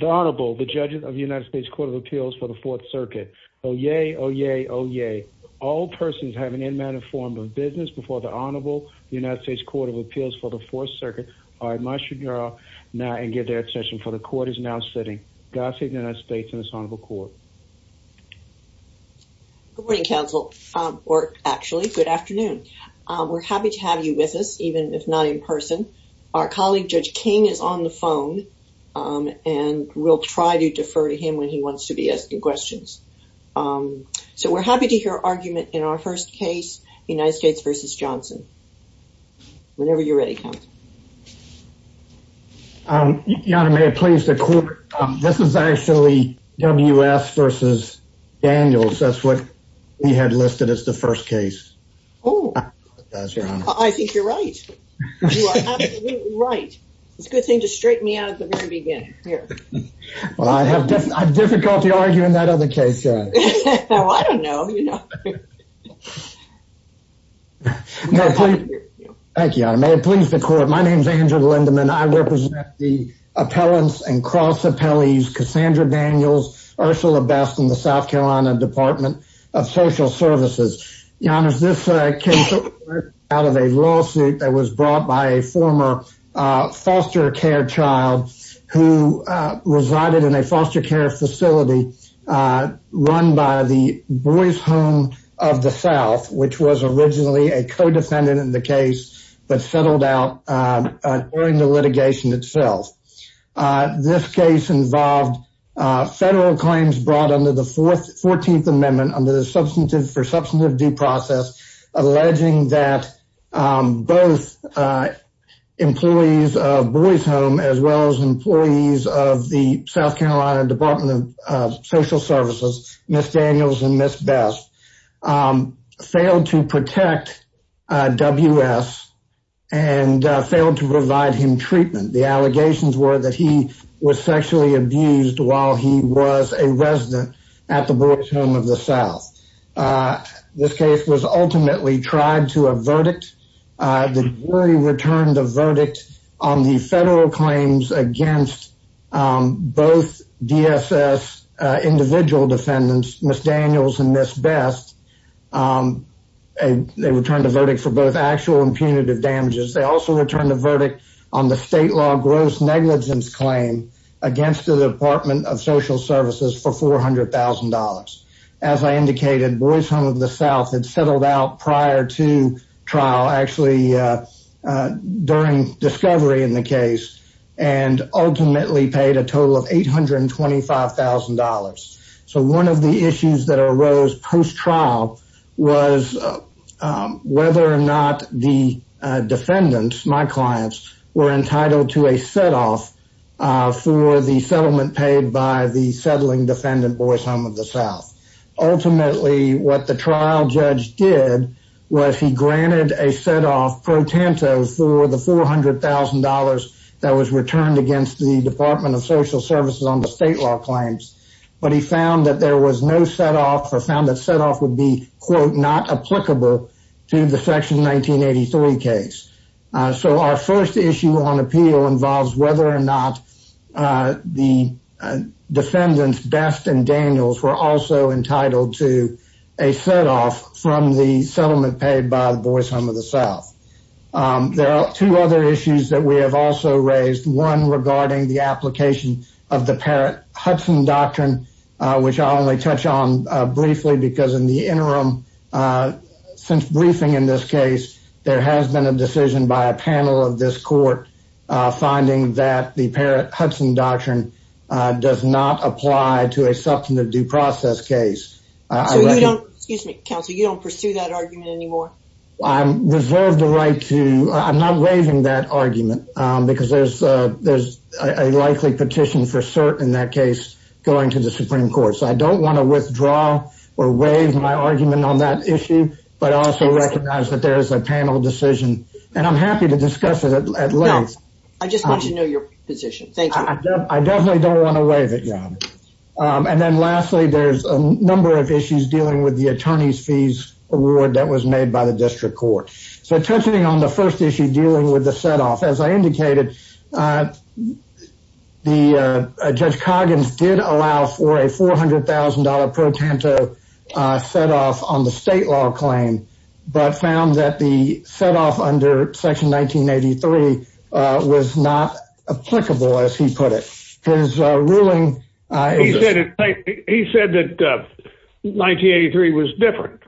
The Honorable, the Judges of the United States Court of Appeals for the Fourth Circuit. Oh, yay, oh, yay, oh, yay. All persons having an unmanned form of business before the Honorable United States Court of Appeals for the Fourth Circuit are admonished to draw now and give their attention, for the Court is now sitting. God save the United States and this Honorable Court. Good morning, Counsel, or actually, good afternoon. We're happy to have you with us, even if not in person. Our colleague, Judge King, is on the phone, and we'll try to defer to him when he wants to be asking questions. So we're happy to hear argument in our first case, United States v. Johnson, whenever you're ready, Counsel. Your Honor, may it please the Court, this is actually W. S. v. Daniels, that's what he had listed as the first case. Oh, I think you're right. You are absolutely right. It's a good thing to straighten me out at the very beginning. Well, I have difficulty arguing that other case, Your Honor. Well, I don't know, you know. Thank you, Your Honor. May it please the Court, my name is Andrew Lindeman. I represent the appellants and cross appellees, Cassandra Daniels, Ursula Best, and the South of Social Services. Your Honor, this case was brought out of a lawsuit that was brought by a former foster care child who resided in a foster care facility run by the Boys Home of the South, which was originally a co-defendant in the case, but settled out during the litigation itself. This case involved federal claims brought under the 14th Amendment under the Substantive for Substantive Due Process, alleging that both employees of Boys Home as well as employees of the South Carolina Department of Social Services, Ms. Daniels and Ms. Best, failed to protect W.S. and failed to provide him treatment. The allegations were that he was sexually abused while he was a resident at the Boys Home of the South. This case was ultimately tried to a verdict. The jury returned a verdict on the federal claims against both DSS individual defendants, Ms. Daniels and Ms. Best. They returned a verdict for both actual and punitive damages. They also returned a verdict on the state law gross negligence claim against the Department of Social Services for $400,000. As I indicated, Boys Home of the South had settled out prior to trial, actually during discovery in the case, and ultimately paid a total of $825,000. So one of the issues that arose post-trial was whether or not the defendants, my clients, were entitled to a set-off for the settlement paid by the settling defendant, Boys Home of the South. Ultimately, what the trial judge did was he granted a set-off pro tanto for the $400,000 that was returned against the Department of Social Services on the state law claims, but he found that there was no set-off or found that set-off would be, quote, not applicable to the Section 1983 case. So our first issue on appeal involves whether or not the defendants, Best and Daniels, were also entitled to a set-off from the settlement paid by the Boys Home of the South. There are two other issues that we have also raised, one regarding the application of the Parrott-Hudson Doctrine, which I'll only touch on briefly because in the interim, since briefing in this case, there has been a decision by a panel of this court finding that the Parrott-Hudson Doctrine does not apply to a substantive due process case. So you don't, excuse me, counsel, you don't pursue that argument anymore? I reserve the right to, I'm not waiving that argument because there's a likely petition for cert in that case going to the Supreme Court. So I don't want to withdraw or waive my argument on that issue, but I also recognize that there is a panel decision, and I'm happy to discuss it at length. No, I just want to know your position. Thank you. I definitely don't want to waive it, Your Honor. And then lastly, there's a number of issues dealing with the attorney's fees award that was made by the district court. So touching on the first issue dealing with the setoff, as I indicated, the Judge Coggins did allow for a $400,000 pro tanto setoff on the state law claim, but found that the setoff under Section 1983 was not applicable, as he put it. His ruling- He said that 1983 was different.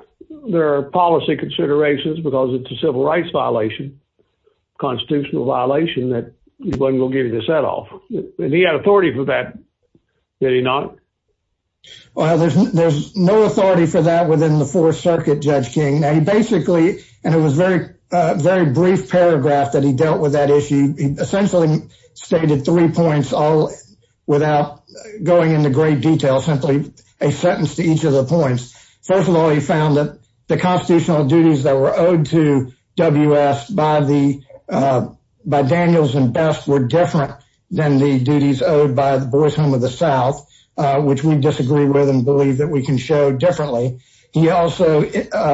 There are policy considerations, because it's a civil rights violation, constitutional violation, that he wasn't going to give you the setoff, and he had authority for that, did he not? Well, there's no authority for that within the Fourth Circuit, Judge King. Now, he basically, and it was a very brief paragraph that he dealt with that issue, essentially stated three points all without going into great detail, simply a sentence to each of the points. First of all, he found that the constitutional duties that were owed to W.S. by Daniels and Best were different than the duties owed by the Boys Home of the South, which we disagree with and believe that we can show differently. He also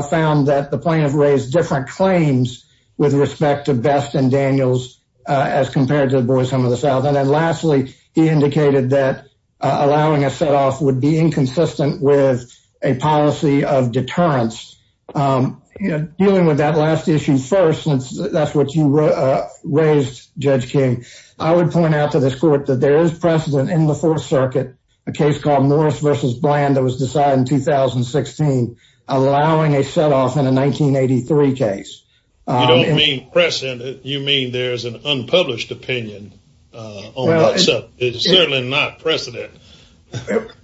found that the plaintiff raised different claims with respect to Best and Daniels as compared to the Boys Home of the South. And then lastly, he indicated that allowing a setoff would be inconsistent with a policy of deterrence. Dealing with that last issue first, since that's what you raised, Judge King, I would point out to this court that there is precedent in the Fourth Circuit, a case called Norris v. Bland that was decided in 2016, allowing a setoff in a 1983 case. You don't mean precedent, you mean there's an unpublished opinion on that subject. It's certainly not precedent.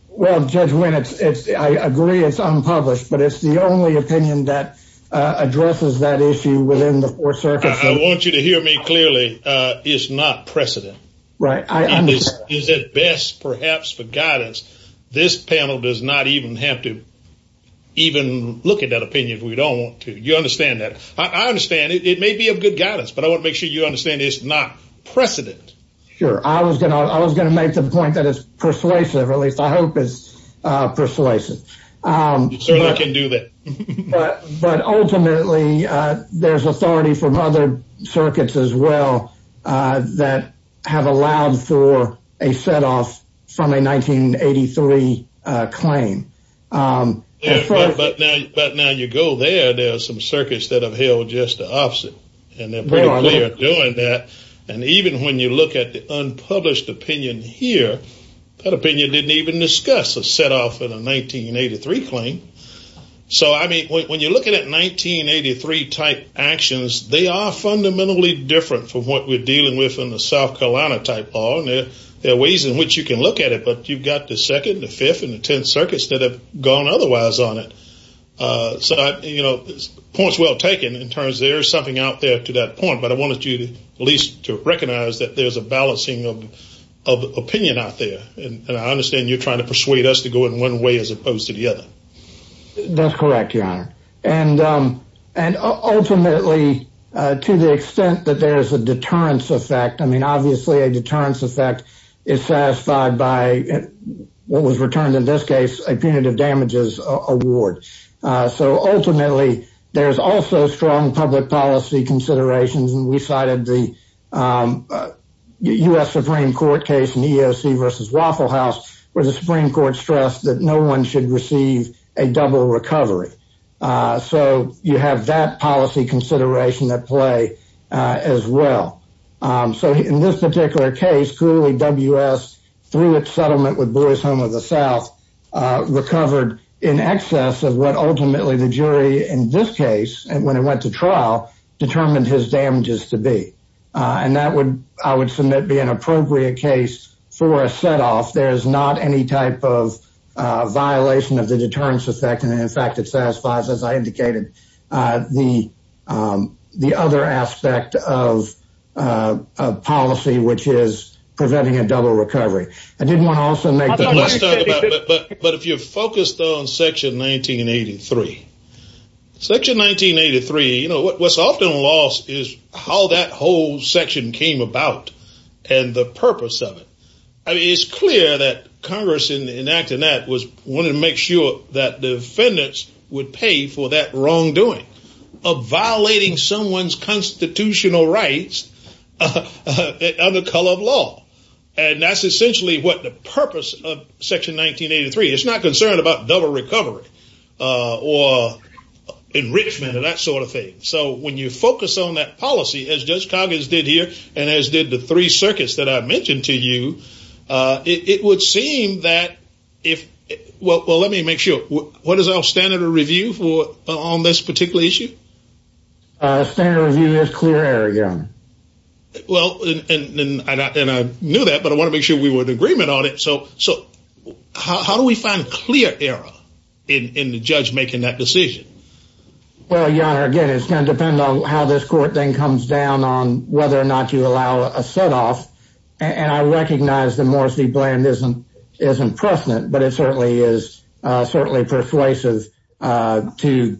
Well, Judge Wynne, I agree it's unpublished, but it's the only opinion that addresses that issue within the Fourth Circuit. I want you to hear me clearly, it's not precedent. Right, I understand. Is it best perhaps for guidance, this panel does not even have to even look at that opinion if we don't want to. You understand that. I understand, it may be of good guidance, but I want to make sure you understand it's not precedent. Sure, I was going to make the point that it's persuasive, at least I hope it's persuasive. You certainly can do that. But ultimately, there's authority from other circuits as well that have allowed for a setoff from a 1983 claim. But now you go there, there are some circuits that have held just the opposite, and they're pretty clear at doing that. And even when you look at the unpublished opinion here, that opinion didn't even discuss a setoff in a 1983 claim. So I mean, when you're looking at 1983 type actions, they are fundamentally different from what we're dealing with in the South Carolina type law, and there are ways in which you can look at it. But you've got the second, the fifth, and the tenth circuits that have gone otherwise on it. So, you know, point's well taken in terms there's something out there to that point. But I wanted you to at least to recognize that there's a balancing of opinion out there. And I understand you're trying to persuade us to go in one way as opposed to the other. That's correct, Your Honor. And ultimately, to the extent that there is a deterrence effect, I mean, obviously a deterrence effect is satisfied by what was returned in this case, a punitive damages award. So ultimately, there's also strong public policy considerations, and we cited the U.S. Supreme Court case in the EEOC versus Waffle House, where the Supreme Court stressed that no one should receive a double recovery. So you have that policy consideration at play as well. So in this particular case, clearly W.S., through its settlement with Boy's Home of the South, recovered in excess of what ultimately the jury in this case, when it went to trial, determined his damages to be. And that would, I would submit, be an appropriate case for a setoff. There's not any type of violation of the deterrence effect, and in fact, it satisfies, as I indicated, the other aspect of policy, which is preventing a double recovery. I did want to also make the point... But if you're focused on Section 1983, Section 1983, you know, what's often lost is how that whole section came about and the purpose of it. I mean, it's clear that Congress, in enacting that, was wanting to make sure that the defendants would pay for that wrongdoing of violating someone's constitutional rights under color of law. And that's essentially what the purpose of Section 1983. It's not concerned about double recovery or enrichment or that sort of thing. So when you focus on that policy, as Judge Coggins did here, and as did the three circuits that I mentioned to you, it would seem that if, well, let me make sure. What is our standard of review on this particular issue? Standard of review is clear error, Your Honor. Well, and I knew that, but I want to make sure we were in agreement on it. So how do we find clear error in the judge making that decision? Well, Your Honor, again, it's going to depend on how this court thing comes down on whether or not you allow a setoff. And I recognize that Morris v. Bland isn't precedent, but it certainly is persuasive to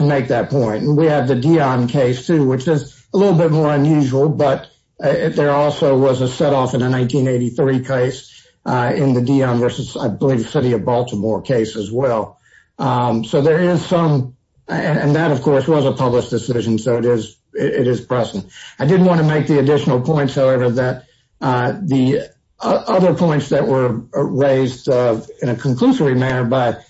make that point. And we have the Dion case, too, which is a little bit more unusual, but there also was a setoff in a 1983 case in the Dion versus, I believe, the city of Baltimore case as well. So there is some, and that, of course, was a published decision, so it is precedent. I did want to make the additional points, however, that the other points that were raised in a conclusory manner by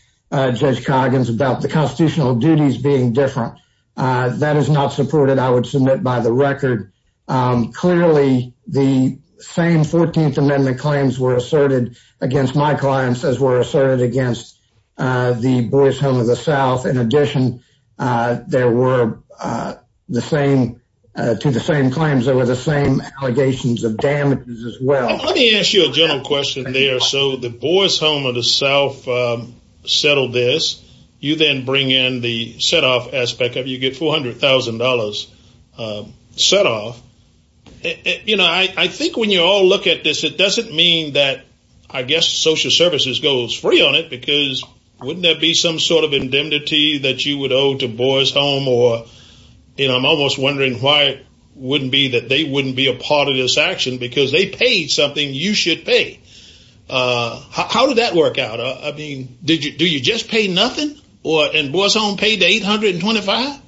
Judge Coggins about the constitutional duties being different, that is not supported, I would submit, by the record. Clearly, the same 14th Amendment claims were asserted against my clients as were asserted against the boys home of the South. In addition, there were the same, to the same claims, there were the same allegations of damages as well. Let me ask you a general question there. So the boys home of the South settled this. You then bring in the setoff aspect of it, you get $400,000 setoff. You know, I think when you all look at this, it doesn't mean that, I guess, social services goes free on it, because wouldn't there be some sort of indemnity that you would owe to boys home, or, you know, I'm almost wondering why it wouldn't be that they wouldn't be a part of this action, because they paid something you should pay. How did that work out? I mean, did you, do you just pay nothing, or, and boys home paid $825,000?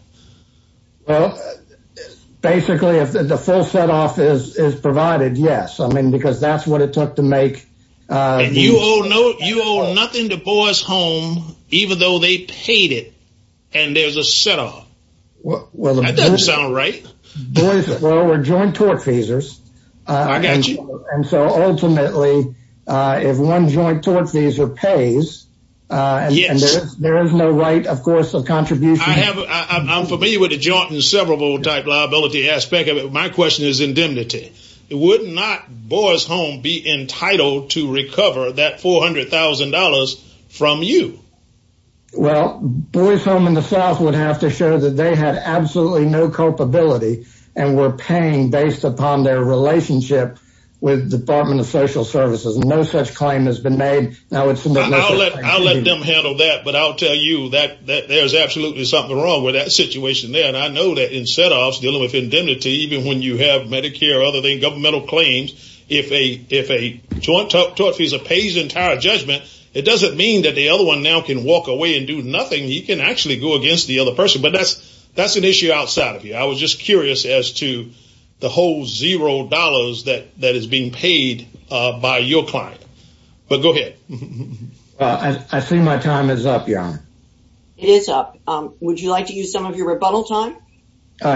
Well, basically, if the full setoff is provided, yes. I mean, because that's what it took to make. You owe nothing to boys home, even though they paid it, and there's a setoff. Well, that doesn't sound right. Well, we're joint tortfeasors, and so ultimately, if one joint tortfeasor pays, and there is no right, of course, of contribution. I'm familiar with the joint and severable type liability aspect of it, but my question is indemnity. Would not boys home be entitled to recover that $400,000 from you? Well, boys home in the South would have to show that they had absolutely no culpability and were paying based upon their relationship with Department of Social Services. No such claim has been made. I'll let them handle that, but I'll tell you that there's absolutely something wrong with that situation there, and I know that in setoffs, dealing with indemnity, even when you have Medicare, other than governmental claims, if a joint tortfeasor pays entire judgment, it doesn't mean that the other one now can walk away and do nothing. You can actually go against the other person, but that's an issue outside of you. I was just curious as to the whole $0 that is being paid by your client, but go ahead. I see my time is up, Your Honor. It is up. Would you like to use some of your rebuttal time?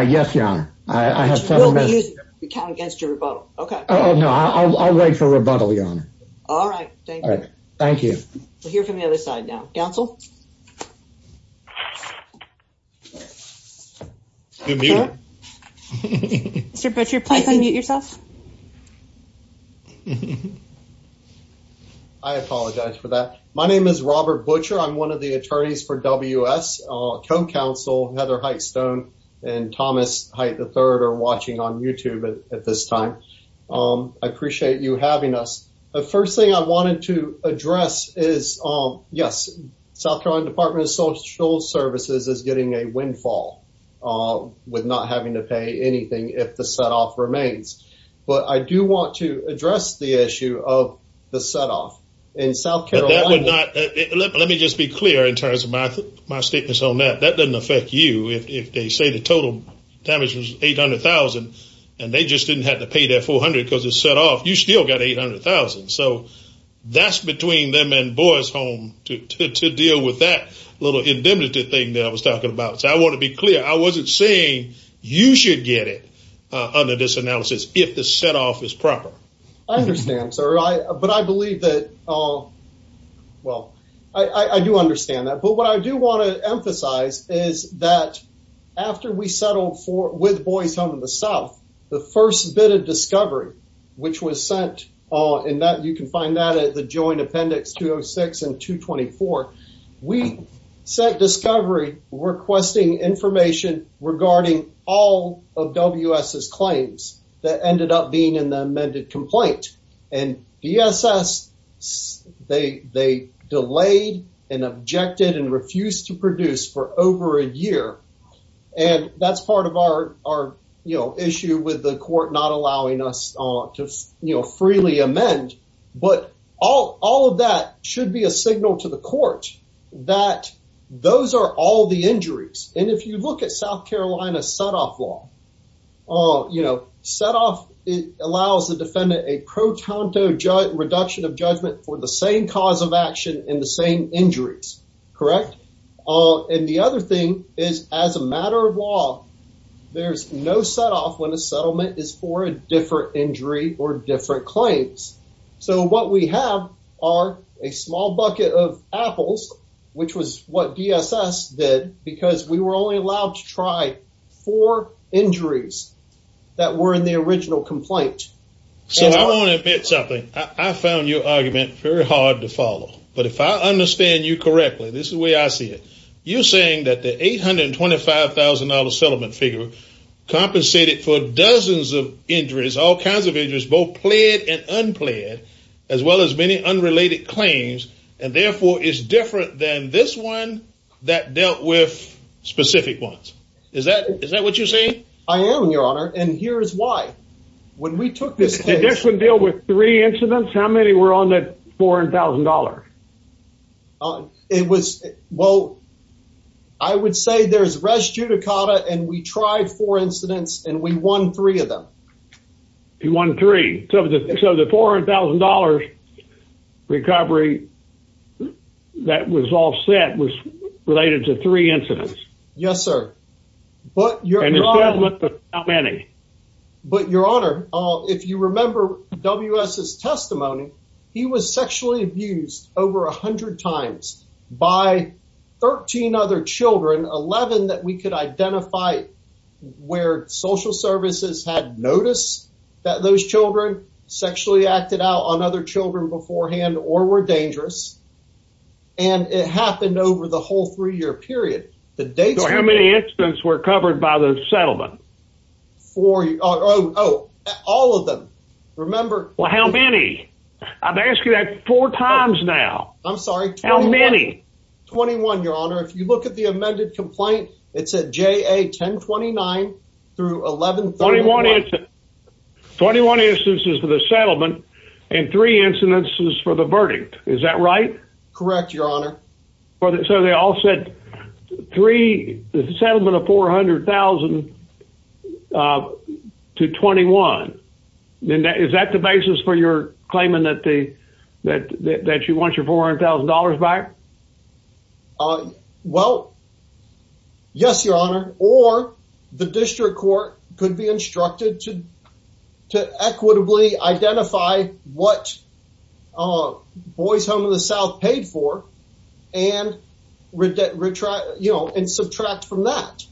Yes, Your Honor. We'll use it if you count against your rebuttal. Okay. Oh, no. I'll wait for rebuttal, Your Honor. All right. Thank you. All right. Thank you. We'll hear from the other side now. Counsel? You're muted. Mr. Butcher, please unmute yourself. I apologize for that. My name is Robert Butcher. I'm one of the attorneys for WS, co-counsel Heather Height-Stone and Thomas Height III are watching on YouTube at this time. I appreciate you having us. The first thing I wanted to address is, yes, South Carolina Department of Social Services is getting a windfall with not having to pay anything if the setoff remains, but I do want to address the issue of the setoff. In South Carolina... But that would not... Let me just be clear in terms of my statements on that. That doesn't affect you. If they say the total damage was $800,000 and they just didn't have to pay that $400,000 because it's set off, you still got $800,000. So that's between them and Boys Home to deal with that little indemnity thing that I was talking about. So I want to be clear. I wasn't saying you should get it under this analysis if the setoff is proper. I understand, sir. But I believe that... Well, I do understand that. But what I do want to emphasize is that after we settled with Boys Home in the South, the first bit of discovery which was sent, and you can find that at the Joint Appendix 206 and 224, we set discovery requesting information regarding all of WS's claims that ended up being in the amended complaint. And BSS, they delayed and objected and refused to produce for over a year. And that's part of our issue with the court not allowing us to freely amend. But all of that should be a signal to the court that those are all the injuries. And if you look at South Carolina setoff law, you know, setoff allows the defendant a pro tanto reduction of judgment for the same cause of action and the same injuries, correct? And the other thing is, as a matter of law, there's no setoff when a settlement is for a different injury or different claims. So what we have are a small bucket of apples, which was what BSS did, because we were only allowed to try four injuries that were in the original complaint. So I want to admit something. I found your argument very hard to follow. But if I understand you correctly, this is the way I see it. You're saying that the $825,000 settlement figure compensated for dozens of injuries, all kinds of injuries, both pled and unpled, as well as many unrelated claims. And therefore, it's different than this one that dealt with specific ones. Is that what you're saying? I am, your honor. And here's why. When we took this case. Did this one deal with three incidents? How many were on that $4,000? It was, well, I would say there's res judicata and we tried four incidents and we won three of them. You won three. So the $400,000 recovery that was all set was related to three incidents. Yes, sir. But, your honor, if you remember WS's testimony, he was sexually abused over 100 times by 13 other children, 11 that we could identify where social services had noticed that those children sexually acted out on other children beforehand or were dangerous. And it happened over the whole three year period. The dates were- How many incidents were covered by the settlement? Four, oh, all of them. Remember- Well, how many? I've asked you that four times now. I'm sorry. How many? 21, your honor. If you look at the amended complaint, it said JA 1029 through 1131. 21 instances for the settlement and three incidences for the verdict. Is that right? Correct, your honor. So they all said three, the settlement of $400,000 to 21. Then is that the basis for your claiming that you want your $400,000 back? Well, yes, your honor. Or the district court could be instructed to equitably identify what Boys Home of the South paid for and subtract from that.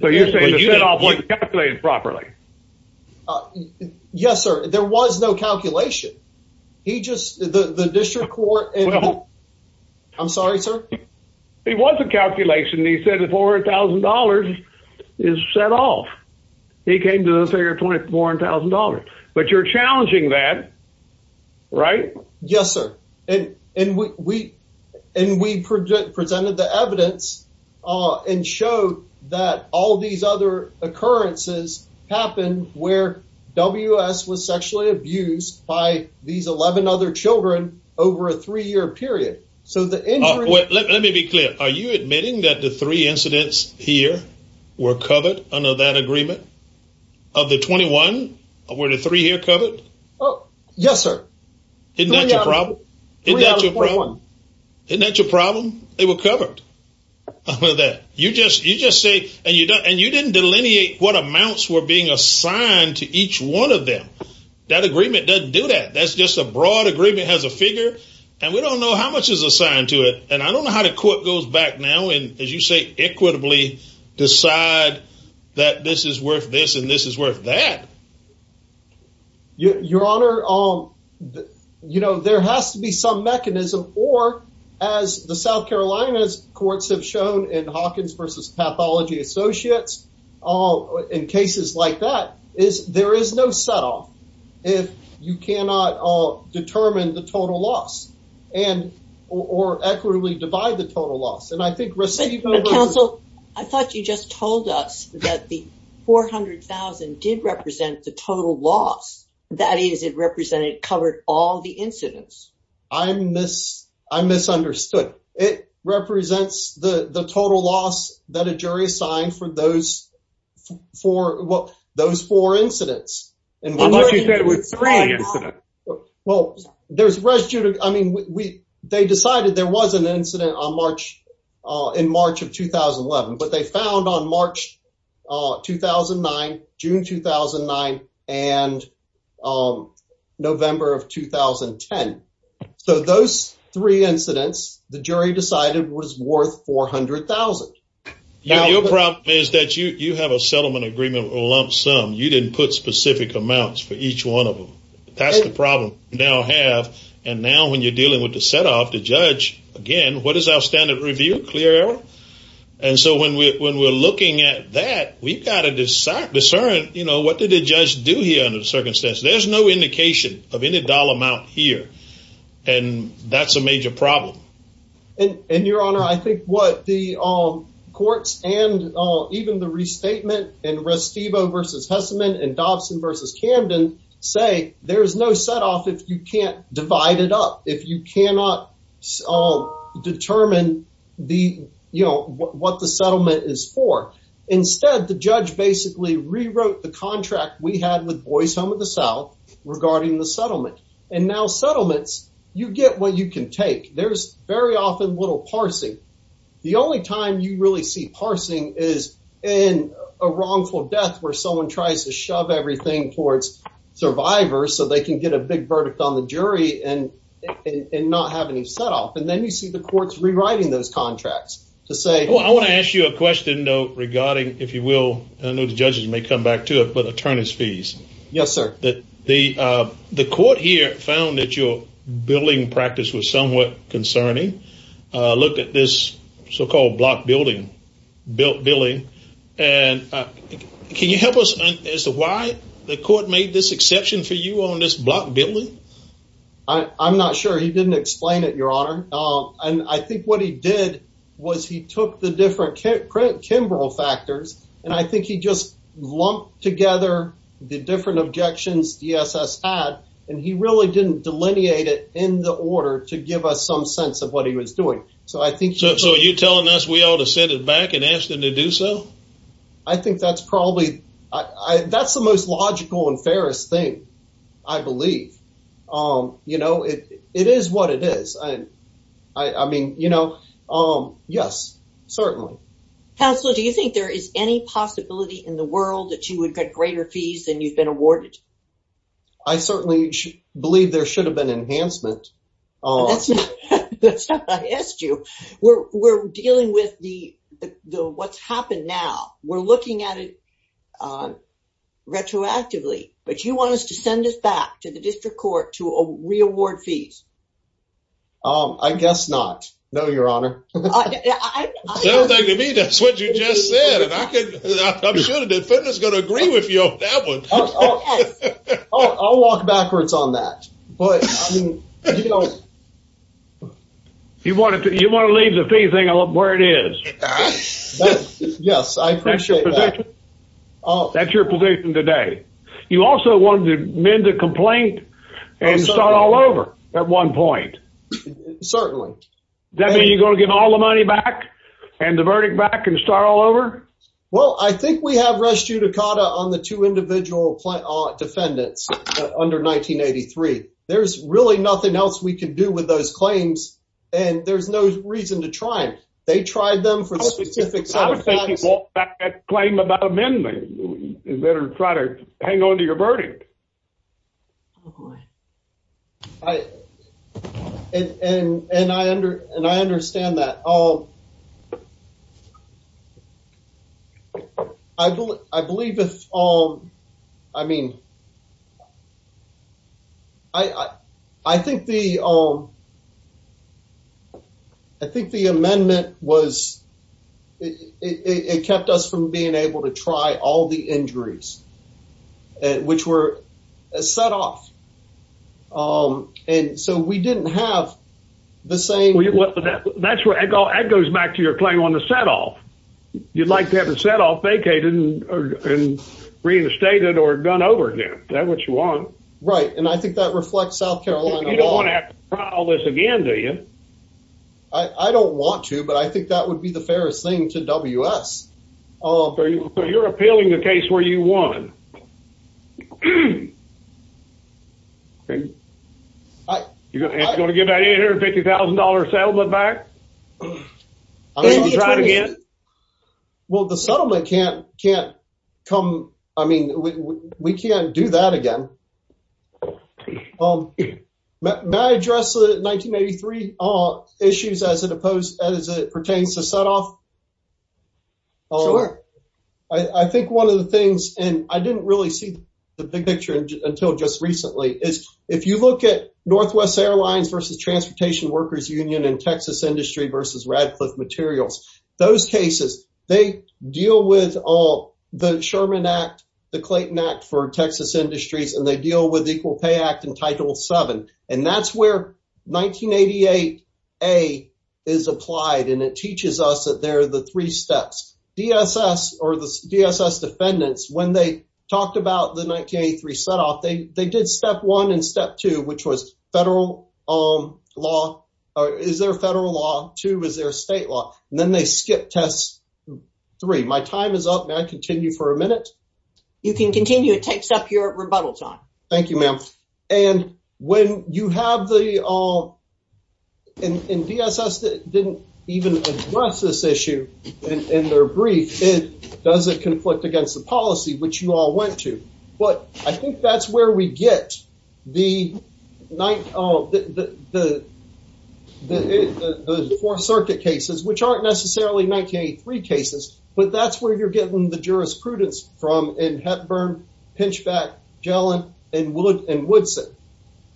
So you're saying you didn't calculate it properly? Yes, sir. There was no calculation. He just, the district court- Well- I'm sorry, sir? It was a calculation. He said the $400,000 is set off. He came to the figure of $400,000. But you're challenging that, right? Yes, sir. And we presented the evidence and showed that all these other occurrences happened where WS was sexually abused by these 11 other children over a three-year period. So the- Wait, let me be clear. Are you admitting that the three incidents here were covered under that agreement? Of the 21, were the three here covered? Oh, yes, sir. Isn't that your problem? Isn't that your problem? Isn't that your problem? They were covered under that. You just say, and you didn't delineate what amounts were being assigned to each one of them. That agreement doesn't do that. That's just a broad agreement. It has a figure, and we don't know how much is assigned to it. And I don't know how the court goes back now and, as you say, equitably decide that this is worth this and this is worth that. Your Honor, there has to be some mechanism, or as the South Carolina courts have shown in Hawkins versus Pathology Associates, in cases like that, there is no set off. If you cannot determine the total loss and, or equitably divide the total loss. And I think receiving- Counsel, I thought you just told us that the 400,000 did represent the total loss. That is, it represented, covered all the incidents. I'm misunderstood. It represents the total loss that a jury assigned for those four incidents. I thought you said it was three incidents. Well, there's, I mean, they decided there was an incident on March, in March of 2011. But they found on March 2009, June 2009, and November of 2010. So those three incidents, the jury decided was worth 400,000. Your problem is that you have a settlement agreement lump sum. You didn't put specific amounts for each one of them. That's the problem we now have. And now when you're dealing with the set off, the judge, again, what is our standard review? Clear error? And so when we're looking at that, we've got to discern, you know, what did the judge do here under the circumstances? There's no indication of any dollar amount here. And that's a major problem. And your honor, I think what the courts and even the restatement and Restivo versus Hesselman and Dobson versus Camden say, there's no set off if you can't divide it up, if you cannot determine the, you know, what the settlement is for. Instead, the judge basically rewrote the contract we had with Boy's Home of the South regarding the settlement. And now settlements, you get what you can take. There's very often little parsing. The only time you really see parsing is in a wrongful death where someone tries to shove everything towards survivors so they can get a big verdict on the jury and not have any set off. And then you see the courts rewriting those contracts to say, well, I want to ask you a question, though, regarding, if you will, I know the judges may come back to it, but attorneys fees. Yes, sir. That the the court here found that your billing practice was somewhat concerning. Look at this so-called block building bill billing. And can you help us as to why the court made this exception for you on this block building? I'm not sure he didn't explain it, your honor. And I think what he did was he took the different Kimbrough factors and I think he just lumped together the different objections the SS had and he really didn't delineate it in the order to give us some sense of what he was doing. So I think so. So you're telling us we ought to send it back and ask them to do so. I think that's probably I that's the most logical and fairest thing, I believe, you know, it is what it is. I mean, you know, yes, certainly. Counselor, do you think there is any possibility in the world that you would get greater fees than you've been awarded? I certainly believe there should have been enhancement. That's not what I asked you. We're dealing with the what's happened now. We're looking at it retroactively. But you want us to send this back to the district court to reaward fees. I guess not. No, your honor. Sounds like to me that's what you just said. And I'm sure the defendant is going to agree with you on that one. I'll walk backwards on that. But you know. You want to leave the fee thing where it is. Yes, I appreciate that. That's your position today. You also want to amend the complaint and start all over at one point. Certainly. Does that mean you're going to give all the money back and the verdict back and start all over? Well, I think we have res judicata on the two individual defendants under 1983. There's really nothing else we can do with those claims. And there's no reason to try it. They tried them for the specifics. I would say you walk back that claim about amending. You better try to hang on to your verdict. And I understand that. I believe if, I mean, I think the amendment was, it kept us from being able to try all the injuries. And which were set off. And so we didn't have the same. That's where it goes back to your claim on the set off. You'd like to have a set off vacated and reinstated or gone over again. Is that what you want? Right. And I think that reflects South Carolina law. You don't want to have to try all this again, do you? I don't want to. But I think that would be the fairest thing to WS. So you're appealing the case where you won. You're going to give that $150,000 settlement back? Well, the settlement can't come. I mean, we can't do that again. May I address the 1983 issues as it pertains to set off? Sure. I think 1 of the things, and I didn't really see the big picture until just recently, is if you look at Northwest Airlines versus Transportation Workers Union and Texas Industry versus Radcliffe Materials. Those cases, they deal with all the Sherman Act, the Clayton Act for Texas Industries, and they deal with Equal Pay Act and Title 7. And that's where 1988 is applied. And it teaches us that there are the 3 steps. DSS or the DSS defendants, when they talked about the 1983 set off, they did step 1 and step 2, which was federal law. Is there a federal law? 2, is there a state law? And then they skipped test 3. My time is up. May I continue for a minute? You can continue. It takes up your rebuttal time. Thank you, ma'am. And when you have the—and DSS didn't even address this issue in their brief. It doesn't conflict against the policy, which you all went to. But I think that's where we get the Fourth Circuit cases, which aren't necessarily 1983 cases. But that's where you're getting the jurisprudence from in Hepburn, Pinchback, Gellin, and Woodson.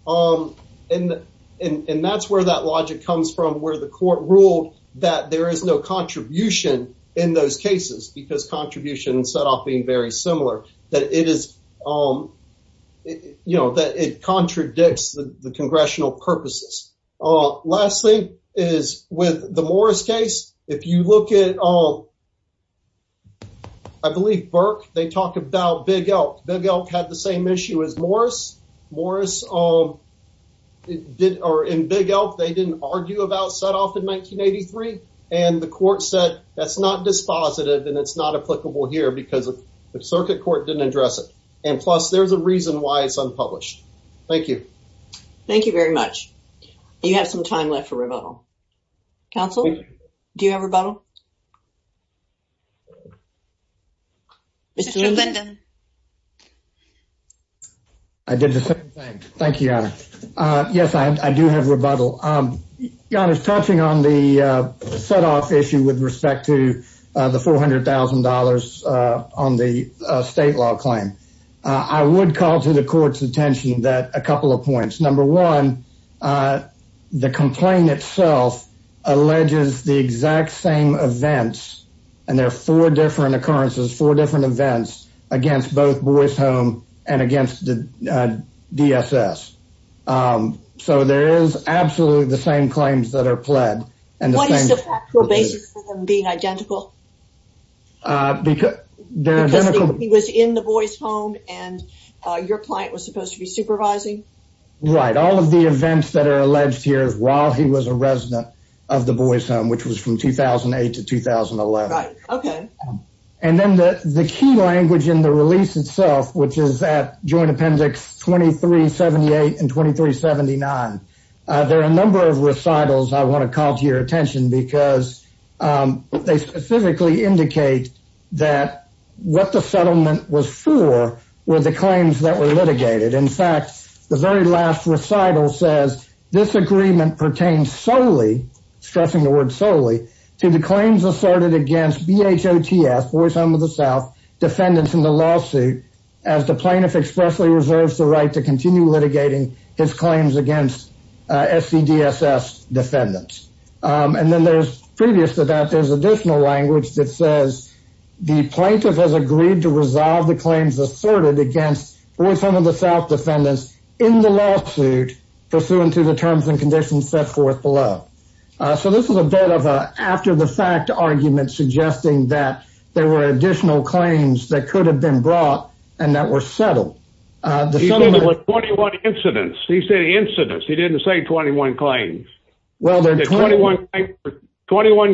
And that's where that logic comes from, where the court ruled that there is no contribution in those cases, because contribution and set off being very similar, that it is, you know, that it contradicts the congressional purposes. Last thing is with the Morris case. If you look at, I believe, Burke, they talk about Big Elk. Big Elk had the same issue as Morris. Morris did—or in Big Elk, they didn't argue about set off in 1983. And the court said that's not dispositive and it's not applicable here because the circuit court didn't address it. And plus, there's a reason why it's unpublished. Thank you. Thank you very much. You have some time left for rebuttal. Counsel, do you have rebuttal? Mr. Linden. I did the same thing. Thank you, Yonah. Yes, I do have rebuttal. Yonah, touching on the set off issue with respect to the $400,000 on the state law claim, I would call to the court's attention that a couple of points. Number one, the complaint itself alleges the exact same thing events—and there are four different occurrences, four different events— against both Boy's Home and against the DSS. So there is absolutely the same claims that are pled. And what is the actual basis for them being identical? He was in the Boy's Home and your client was supposed to be supervising? Right. All of the events that are alleged here is while he was a resident of the Boy's Home, which was from 2008 to 2011. Right, okay. And then the key language in the release itself, which is at Joint Appendix 2378 and 2379, there are a number of recitals I want to call to your attention because they specifically indicate that what the settlement was for were the claims that were litigated. In fact, the very last recital says, this agreement pertains solely, stressing the word solely, to the claims asserted against BHOTF, Boy's Home of the South, defendants in the lawsuit as the plaintiff expressly reserves the right to continue litigating his claims against SCDSS defendants. And then there's, previous to that, there's additional language that says the plaintiff has agreed to resolve the claims asserted against Boy's Home of the South defendants in the lawsuit pursuant to the terms and conditions set forth below. So this is a bit of an after-the-fact argument suggesting that there were additional claims that could have been brought and that were settled. He said it was 21 incidents. He said incidents. He didn't say 21 claims. 21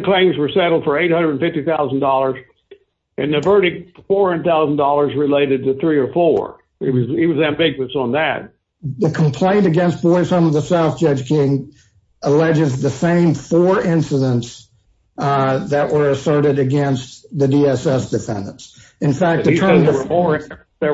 claims were settled for $850,000 and the verdict $400,000 related to three or four. He was ambiguous on that. The complaint against Boy's Home of the South, Judge King, alleges the same four incidents that were asserted against the DSS defendants. In fact, there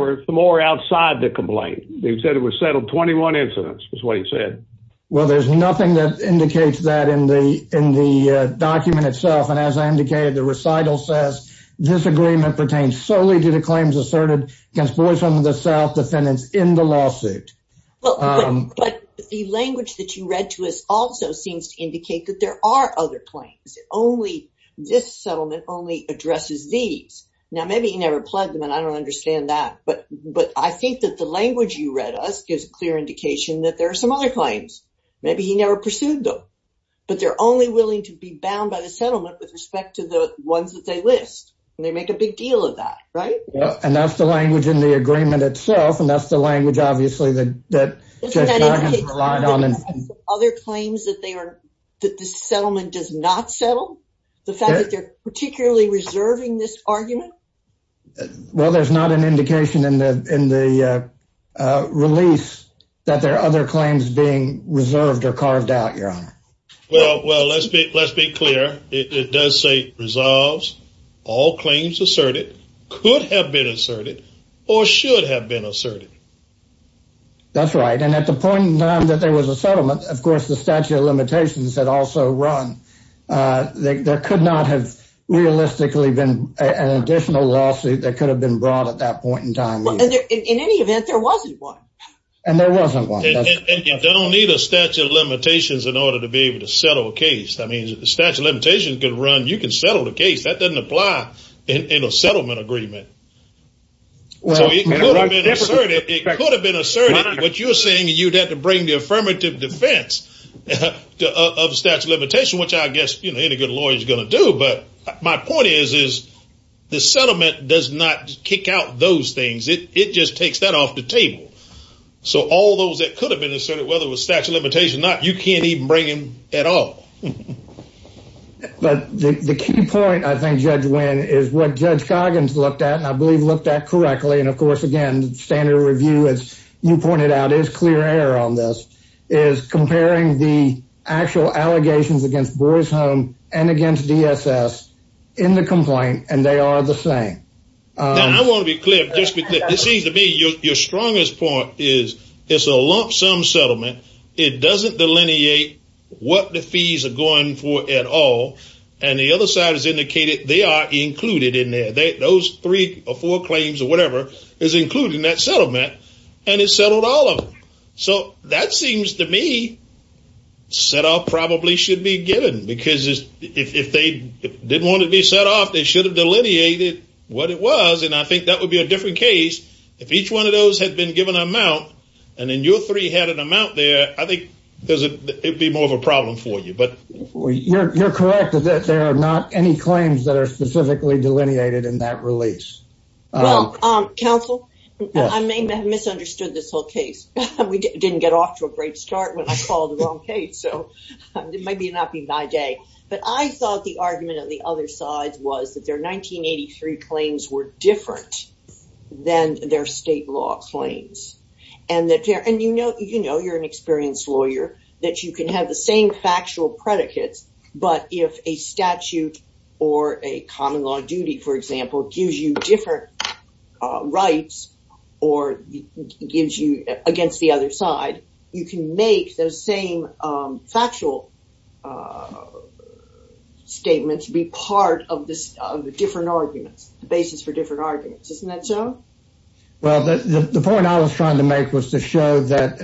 were more outside the complaint. They said it was settled 21 incidents, is what he said. Well, there's nothing that indicates that in the document itself. And as I indicated, the recital says, this agreement pertains solely to the claims asserted against Boy's Home of the South defendants in the lawsuit. But the language that you read to us also seems to indicate that there are other claims. This settlement only addresses these. Now, maybe he never pledged them, and I don't understand that. But I think that the language you read us gives a clear indication that there are some other claims. Maybe he never pursued them. But they're only willing to be bound by the settlement with respect to the ones that they list. They make a big deal of that, right? And that's the language in the agreement itself. And that's the language, obviously, that Judge King relied on. Other claims that this settlement does not settle? The fact that they're particularly reserving this argument? Well, there's not an indication in the release that there are other claims being reserved or carved out, Your Honor. Well, let's be clear. It does say, resolves all claims asserted, could have been asserted, or should have been asserted. That's right. And at the point in time that there was a settlement, of course, the statute of limitations had also run. There could not have realistically been an additional lawsuit that could have been brought at that point in time. Well, in any event, there wasn't one. And there wasn't one. And you don't need a statute of limitations in order to be able to settle a case. I mean, the statute of limitations could run. You can settle the case. That doesn't apply in a settlement agreement. So it could have been asserted. It could have been asserted. But you're saying you'd have to bring the affirmative defense of the statute of limitations, which I guess any good lawyer is going to do. But my point is, is the settlement does not kick out those things. It just takes that off the table. So all those that could have been asserted, whether it was statute of limitations or not, you can't even bring them at all. But the key point, I think, Judge Wynn, is what Judge Coggins looked at, and I believe looked at correctly, and of course, again, standard review, as you pointed out, is clear error on this, is comparing the actual allegations against Boar's Home and against DSS in the complaint. And they are the same. I want to be clear, just because it seems to me your strongest point is it's a lump sum settlement. It doesn't delineate what the fees are going for at all. And the other side has indicated they are included in there. Those three or four claims or whatever is including that settlement, and it settled all of them. So that seems to me, set off probably should be given. Because if they didn't want to be set off, they should have delineated what it was. And I think that would be a different case if each one of those had been given an amount, and then your three had an amount there, I think it would be more of a problem for you. But you're correct that there are not any claims that are specifically delineated in that release. Well, counsel, I may have misunderstood this whole case. We didn't get off to a great start when I called the wrong case. So it might not be my day. But I thought the argument of the other side was that their 1983 claims were different than their state law claims. And you know, you're an experienced lawyer, that you can have the same factual predicates. But if a statute or a common law duty, for example, gives you different rights or gives you against the other side, you can make those same factual statements be part of the different arguments, the basis for different arguments. Isn't that so? Well, the point I was trying to make was to show that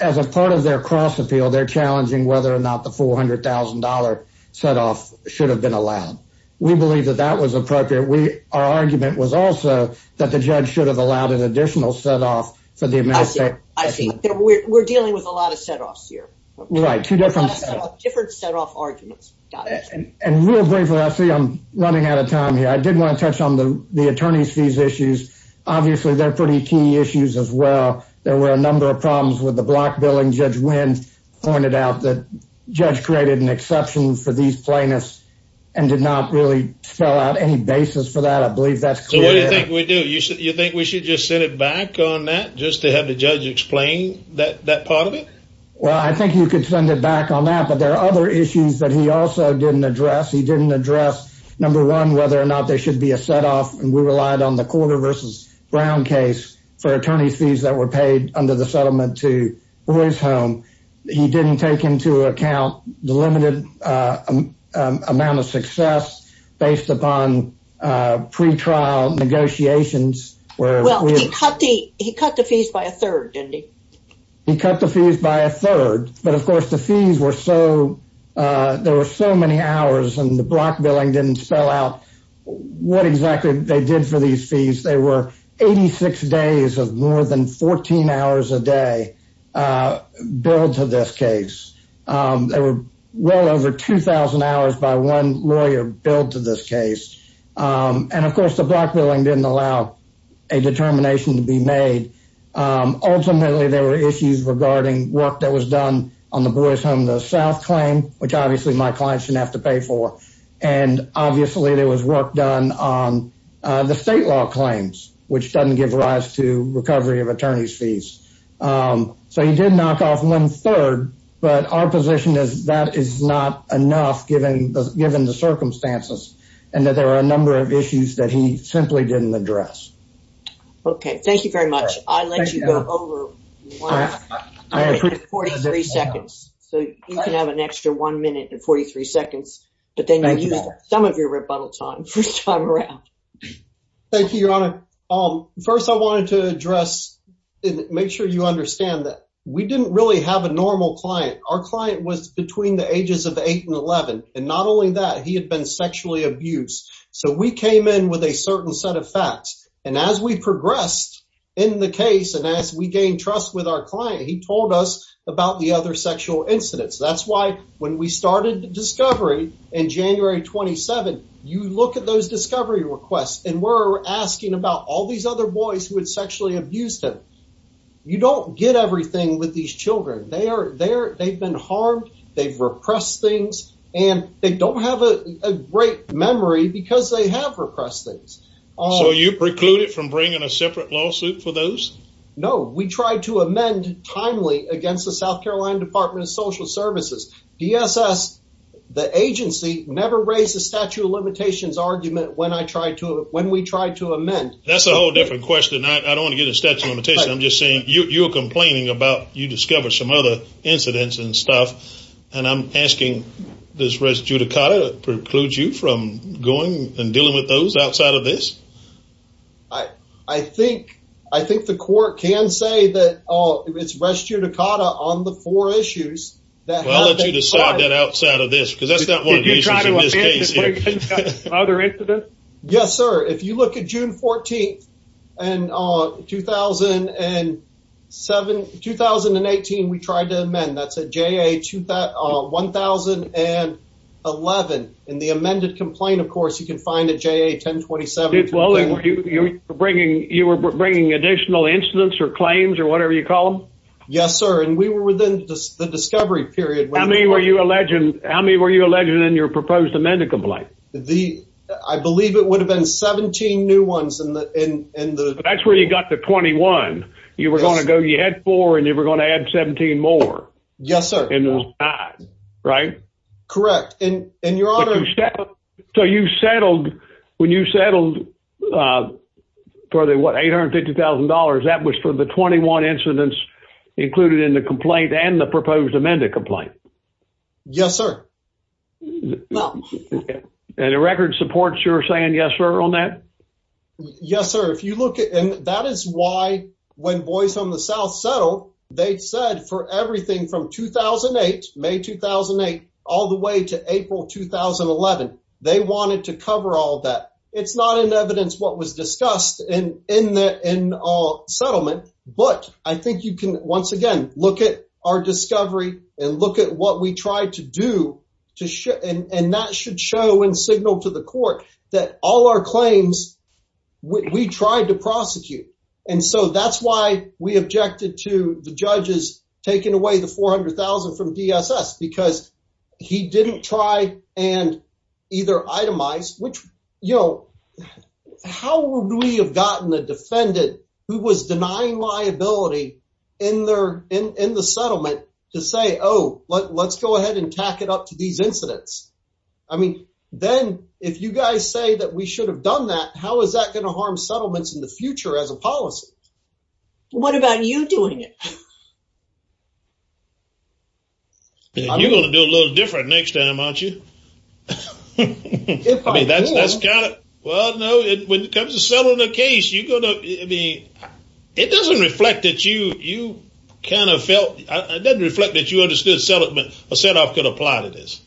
as a part of their cross appeal, they're challenging whether or not the $400,000 set off should have been allowed. We believe that that was appropriate. Our argument was also that the judge should have allowed an additional set off for the amount. I see. We're dealing with a lot of set offs here. Right. A lot of different set off arguments. And real briefly, I see I'm running out of time here. I did want to touch on the attorney's fees issues. Obviously, they're pretty key issues as well. There were a number of problems with the block billing. Judge Wynn pointed out that judge created an exception for these plaintiffs and did not really spell out any basis for that. I believe that's clear. So what do you think we do? You think we should just send it back on that just to have the judge explain that part of it? Well, I think you could send it back on that. But there are other issues that he also didn't address. He didn't address, number one, whether or not there should be a set off. And we relied on the Corder v. Brown case for attorney's fees that were paid under the settlement to Boy's Home. He didn't take into account the limited amount of success based upon pre-trial negotiations. Well, he cut the fees by a third, didn't he? He cut the fees by a third. But of course, the fees were so, there were so many hours and the block billing didn't spell out what exactly they did for these fees. They were 86 days of more than 14 hours a day billed to this case. There were well over 2,000 hours by one lawyer billed to this case. And of course, the block billing didn't allow a determination to be made. Ultimately, there were issues regarding work that was done on the Boy's Home in the South claim, which obviously my clients didn't have to pay for. And obviously, there was work done on the state law claims, which doesn't give rise to recovery of attorney's fees. So he did knock off one third, but our position is that is not enough given the circumstances and that there are a number of issues that he simply didn't address. Okay, thank you very much. I'll let you go over 43 seconds. So you can have an extra one minute and 43 seconds, but then you use some of your rebuttal time first time around. Thank you, Your Honor. First, I wanted to address and make sure you understand that we didn't really have a normal client. Our client was between the ages of eight and 11. And not only that, he had been sexually abused. So we came in with a certain set of facts. And as we progressed in the case and as we gained trust with our client, he told us about the other sexual incidents. That's why when we started the discovery in January 27, you look at those discovery requests and we're asking about all these other boys who had sexually abused him. You don't get everything with these children. They've been harmed, they've repressed things, and they don't have a great memory because they have repressed things. So you precluded from bringing a separate lawsuit for those? No, we tried to amend timely against the South Carolina Department of Social Services. DSS, the agency, never raised the statute of limitations argument when we tried to amend. That's a whole different question. I don't want to get into statute of limitations. I'm just saying you're complaining about you discovered some other incidents and stuff. And I'm asking, does res judicata preclude you from going and dealing with those outside of this? I think the court can say that oh, it's res judicata on the four issues. Well, let's decide that outside of this because that's not one of the issues in this case. Other incidents? Yes, sir. If you look at June 14, 2018, we tried to amend. That's a JA 10011. In the amended complaint, of course, you can find a JA 1027. Well, you were bringing additional incidents or claims or whatever you call them? Yes, sir. And we were within the discovery period. How many were you alleging in your proposed amended complaint? I believe it would have been 17 new ones. That's where you got the 21. You were going to go, you had four, and you were going to add 17 more. Yes, sir. Right? Correct. And your honor... So you settled, when you settled for the $850,000, that was for the 21 incidents included in the complaint and the proposed amended complaint? Yes, sir. And the record supports your saying yes, sir, on that? Yes, sir. That is why when Boys from the South settled, they said for everything from 2008, May 2008, all the way to April 2011, they wanted to cover all that. It's not in evidence what was discussed in the settlement, but I think you can, once again, look at our discovery and look at what we tried to do and that should show and signal to the court that all our claims, we tried to prosecute. And so that's why we objected to the judges taking away the $400,000 from DSS because he didn't try and either itemized, how would we have gotten the defendant who was denying liability in the settlement to say, oh, let's go ahead and tack it up to these incidents? I mean, then if you guys say that we should have done that, how is that going to harm settlements in the future as a policy? What about you doing it? You're going to do a little different next time, aren't you? If I do. I mean, that's kind of, well, no, when it comes to settling a case, you're going to, I mean, it doesn't reflect that you kind of felt, it doesn't reflect that you understood a set-off could apply to this.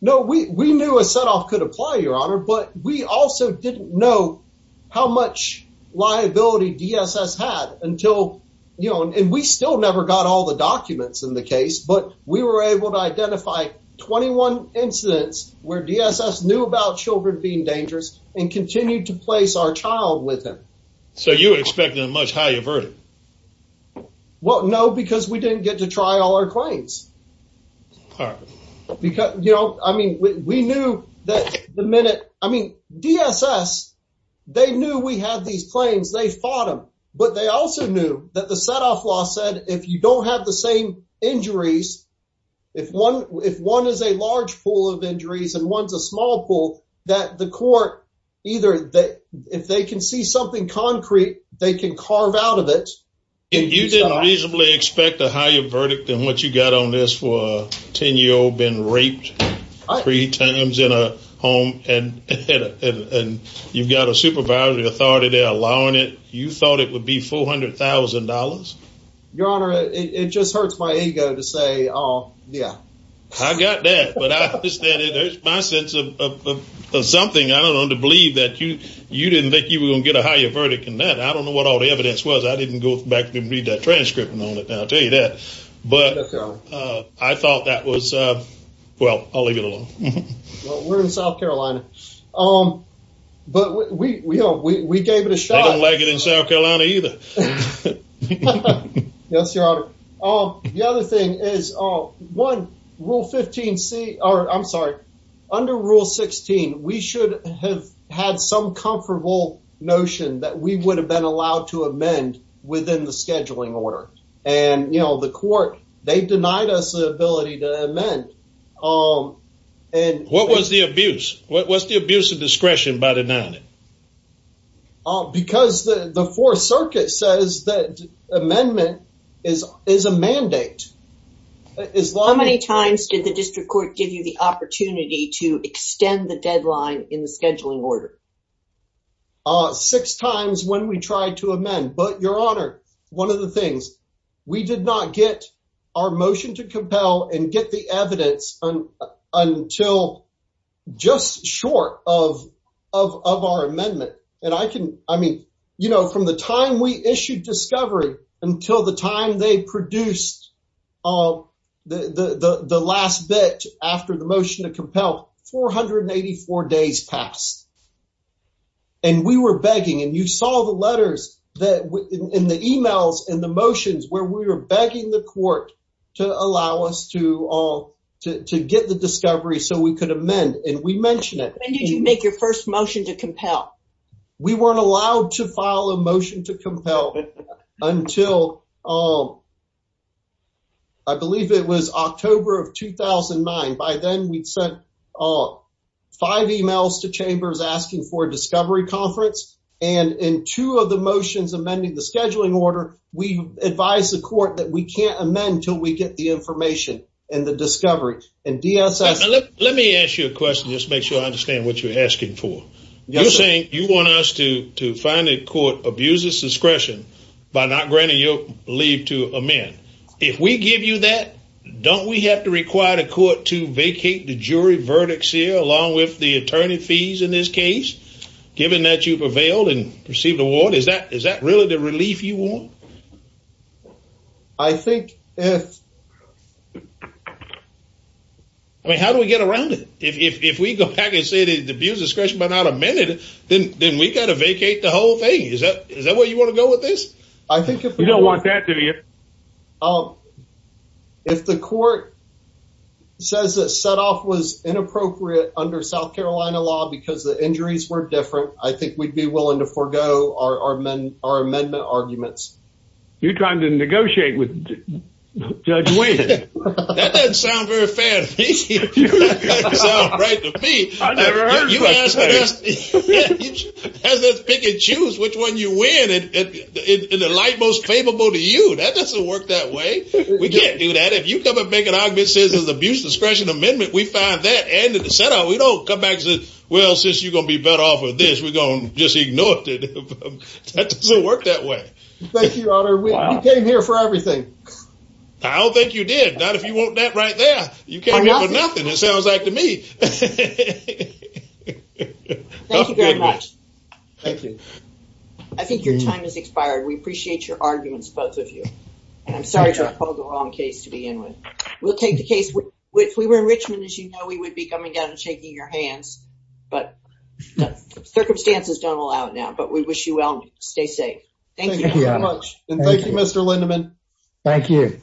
No, we knew a set-off could apply, Your Honor, but we also didn't know how much liability DSS had until, and we still never got all the documents in the case, but we were able to identify 21 incidents where DSS knew about children being dangerous and continued to place our child with them. So you were expecting a much higher verdict? Well, no, because we didn't get to try all our claims. Because, you know, I mean, we knew that the minute, I mean, DSS, they knew we had these claims, they fought them, but they also knew that the set-off law said, if you don't have the same injuries, if one is a large pool of injuries and one's a small pool, that the court either, if they can see something concrete, they can carve out of it. You didn't reasonably expect a higher verdict than what you got on this for a 10-year-old being raped three times in a home, and you've got a supervisory authority there allowing it. You thought it would be $400,000? Your Honor, it just hurts my ego to say, yeah. I got that. But there's my sense of something, I don't know, to believe that you didn't think you were going to get a higher verdict than that. I don't know what all the evidence was. I didn't go back and read that transcript and all that. I'll tell you that. But I thought that was, well, I'll leave it alone. Well, we're in South Carolina. But we gave it a shot. They don't like it in South Carolina either. Yes, Your Honor. The other thing is, one, under Rule 16, we should have had some comfortable notion that we would have been allowed to amend within the scheduling order. And the court, they denied us the ability to amend. What was the abuse? What was the abuse of discretion by denying it? Oh, because the Fourth Circuit says that amendment is a mandate. How many times did the district court give you the opportunity to extend the deadline in the scheduling order? Six times when we tried to amend. But, Your Honor, one of the things, we did not get our motion to compel and get the evidence until just short of our amendment. And I can, I mean, you know, from the time we issued discovery until the time they produced the last bit after the motion to compel, 484 days passed. And we were begging. And you saw the letters and the emails and the motions where we were begging the court to allow us to get the discovery so we could amend. And we mentioned it. When did you make your first motion to compel? We weren't allowed to file a motion to compel until I believe it was October of 2009. By then, we'd sent five emails to chambers asking for a discovery conference. And in two of the motions amending the scheduling order, we advised the court that we can't amend until we get the information and the discovery. And DSS... Let me ask you a question. Just make sure I understand what you're asking for. You're saying you want us to find a court abuses discretion by not granting your leave to amend. If we give you that, don't we have to require the court to vacate the jury verdicts here along with the attorney fees in this case? Given that you prevailed and received the award, is that really the relief you want? I think if... I mean, how do we get around it? If we go back and say the abuse discretion but not amended, then we got to vacate the whole thing. Is that where you want to go with this? I think if... You don't want that, do you? If the court says that set off was inappropriate under South Carolina law because the injuries were different, I think we'd be willing to forego our amendment arguments. You're trying to negotiate with Judge Wayne. That doesn't sound very fair to me. It doesn't sound right to me. I've never heard of such a thing. As a pick and choose which one you win in the light most favorable to you, that doesn't work that way. We can't do that. If you come and make an argument that says there's an abuse discretion amendment, we find that and at the set up, we don't come back and say, well, since you're going to be better off with this, we're going to just ignore it. That doesn't work that way. Thank you, Your Honor. You came here for everything. I don't think you did. Not if you want that right there. You came here for nothing, it sounds like to me. Thank you very much. Thank you. I think your time has expired. We appreciate your arguments, both of you. And I'm sorry to uphold the wrong case to begin with. We'll take the case. If we were in Richmond, as you know, we would be coming down and shaking your hands. But circumstances don't allow it now. But we wish you well and stay safe. Thank you very much. And thank you, Mr. Lindeman. Thank you.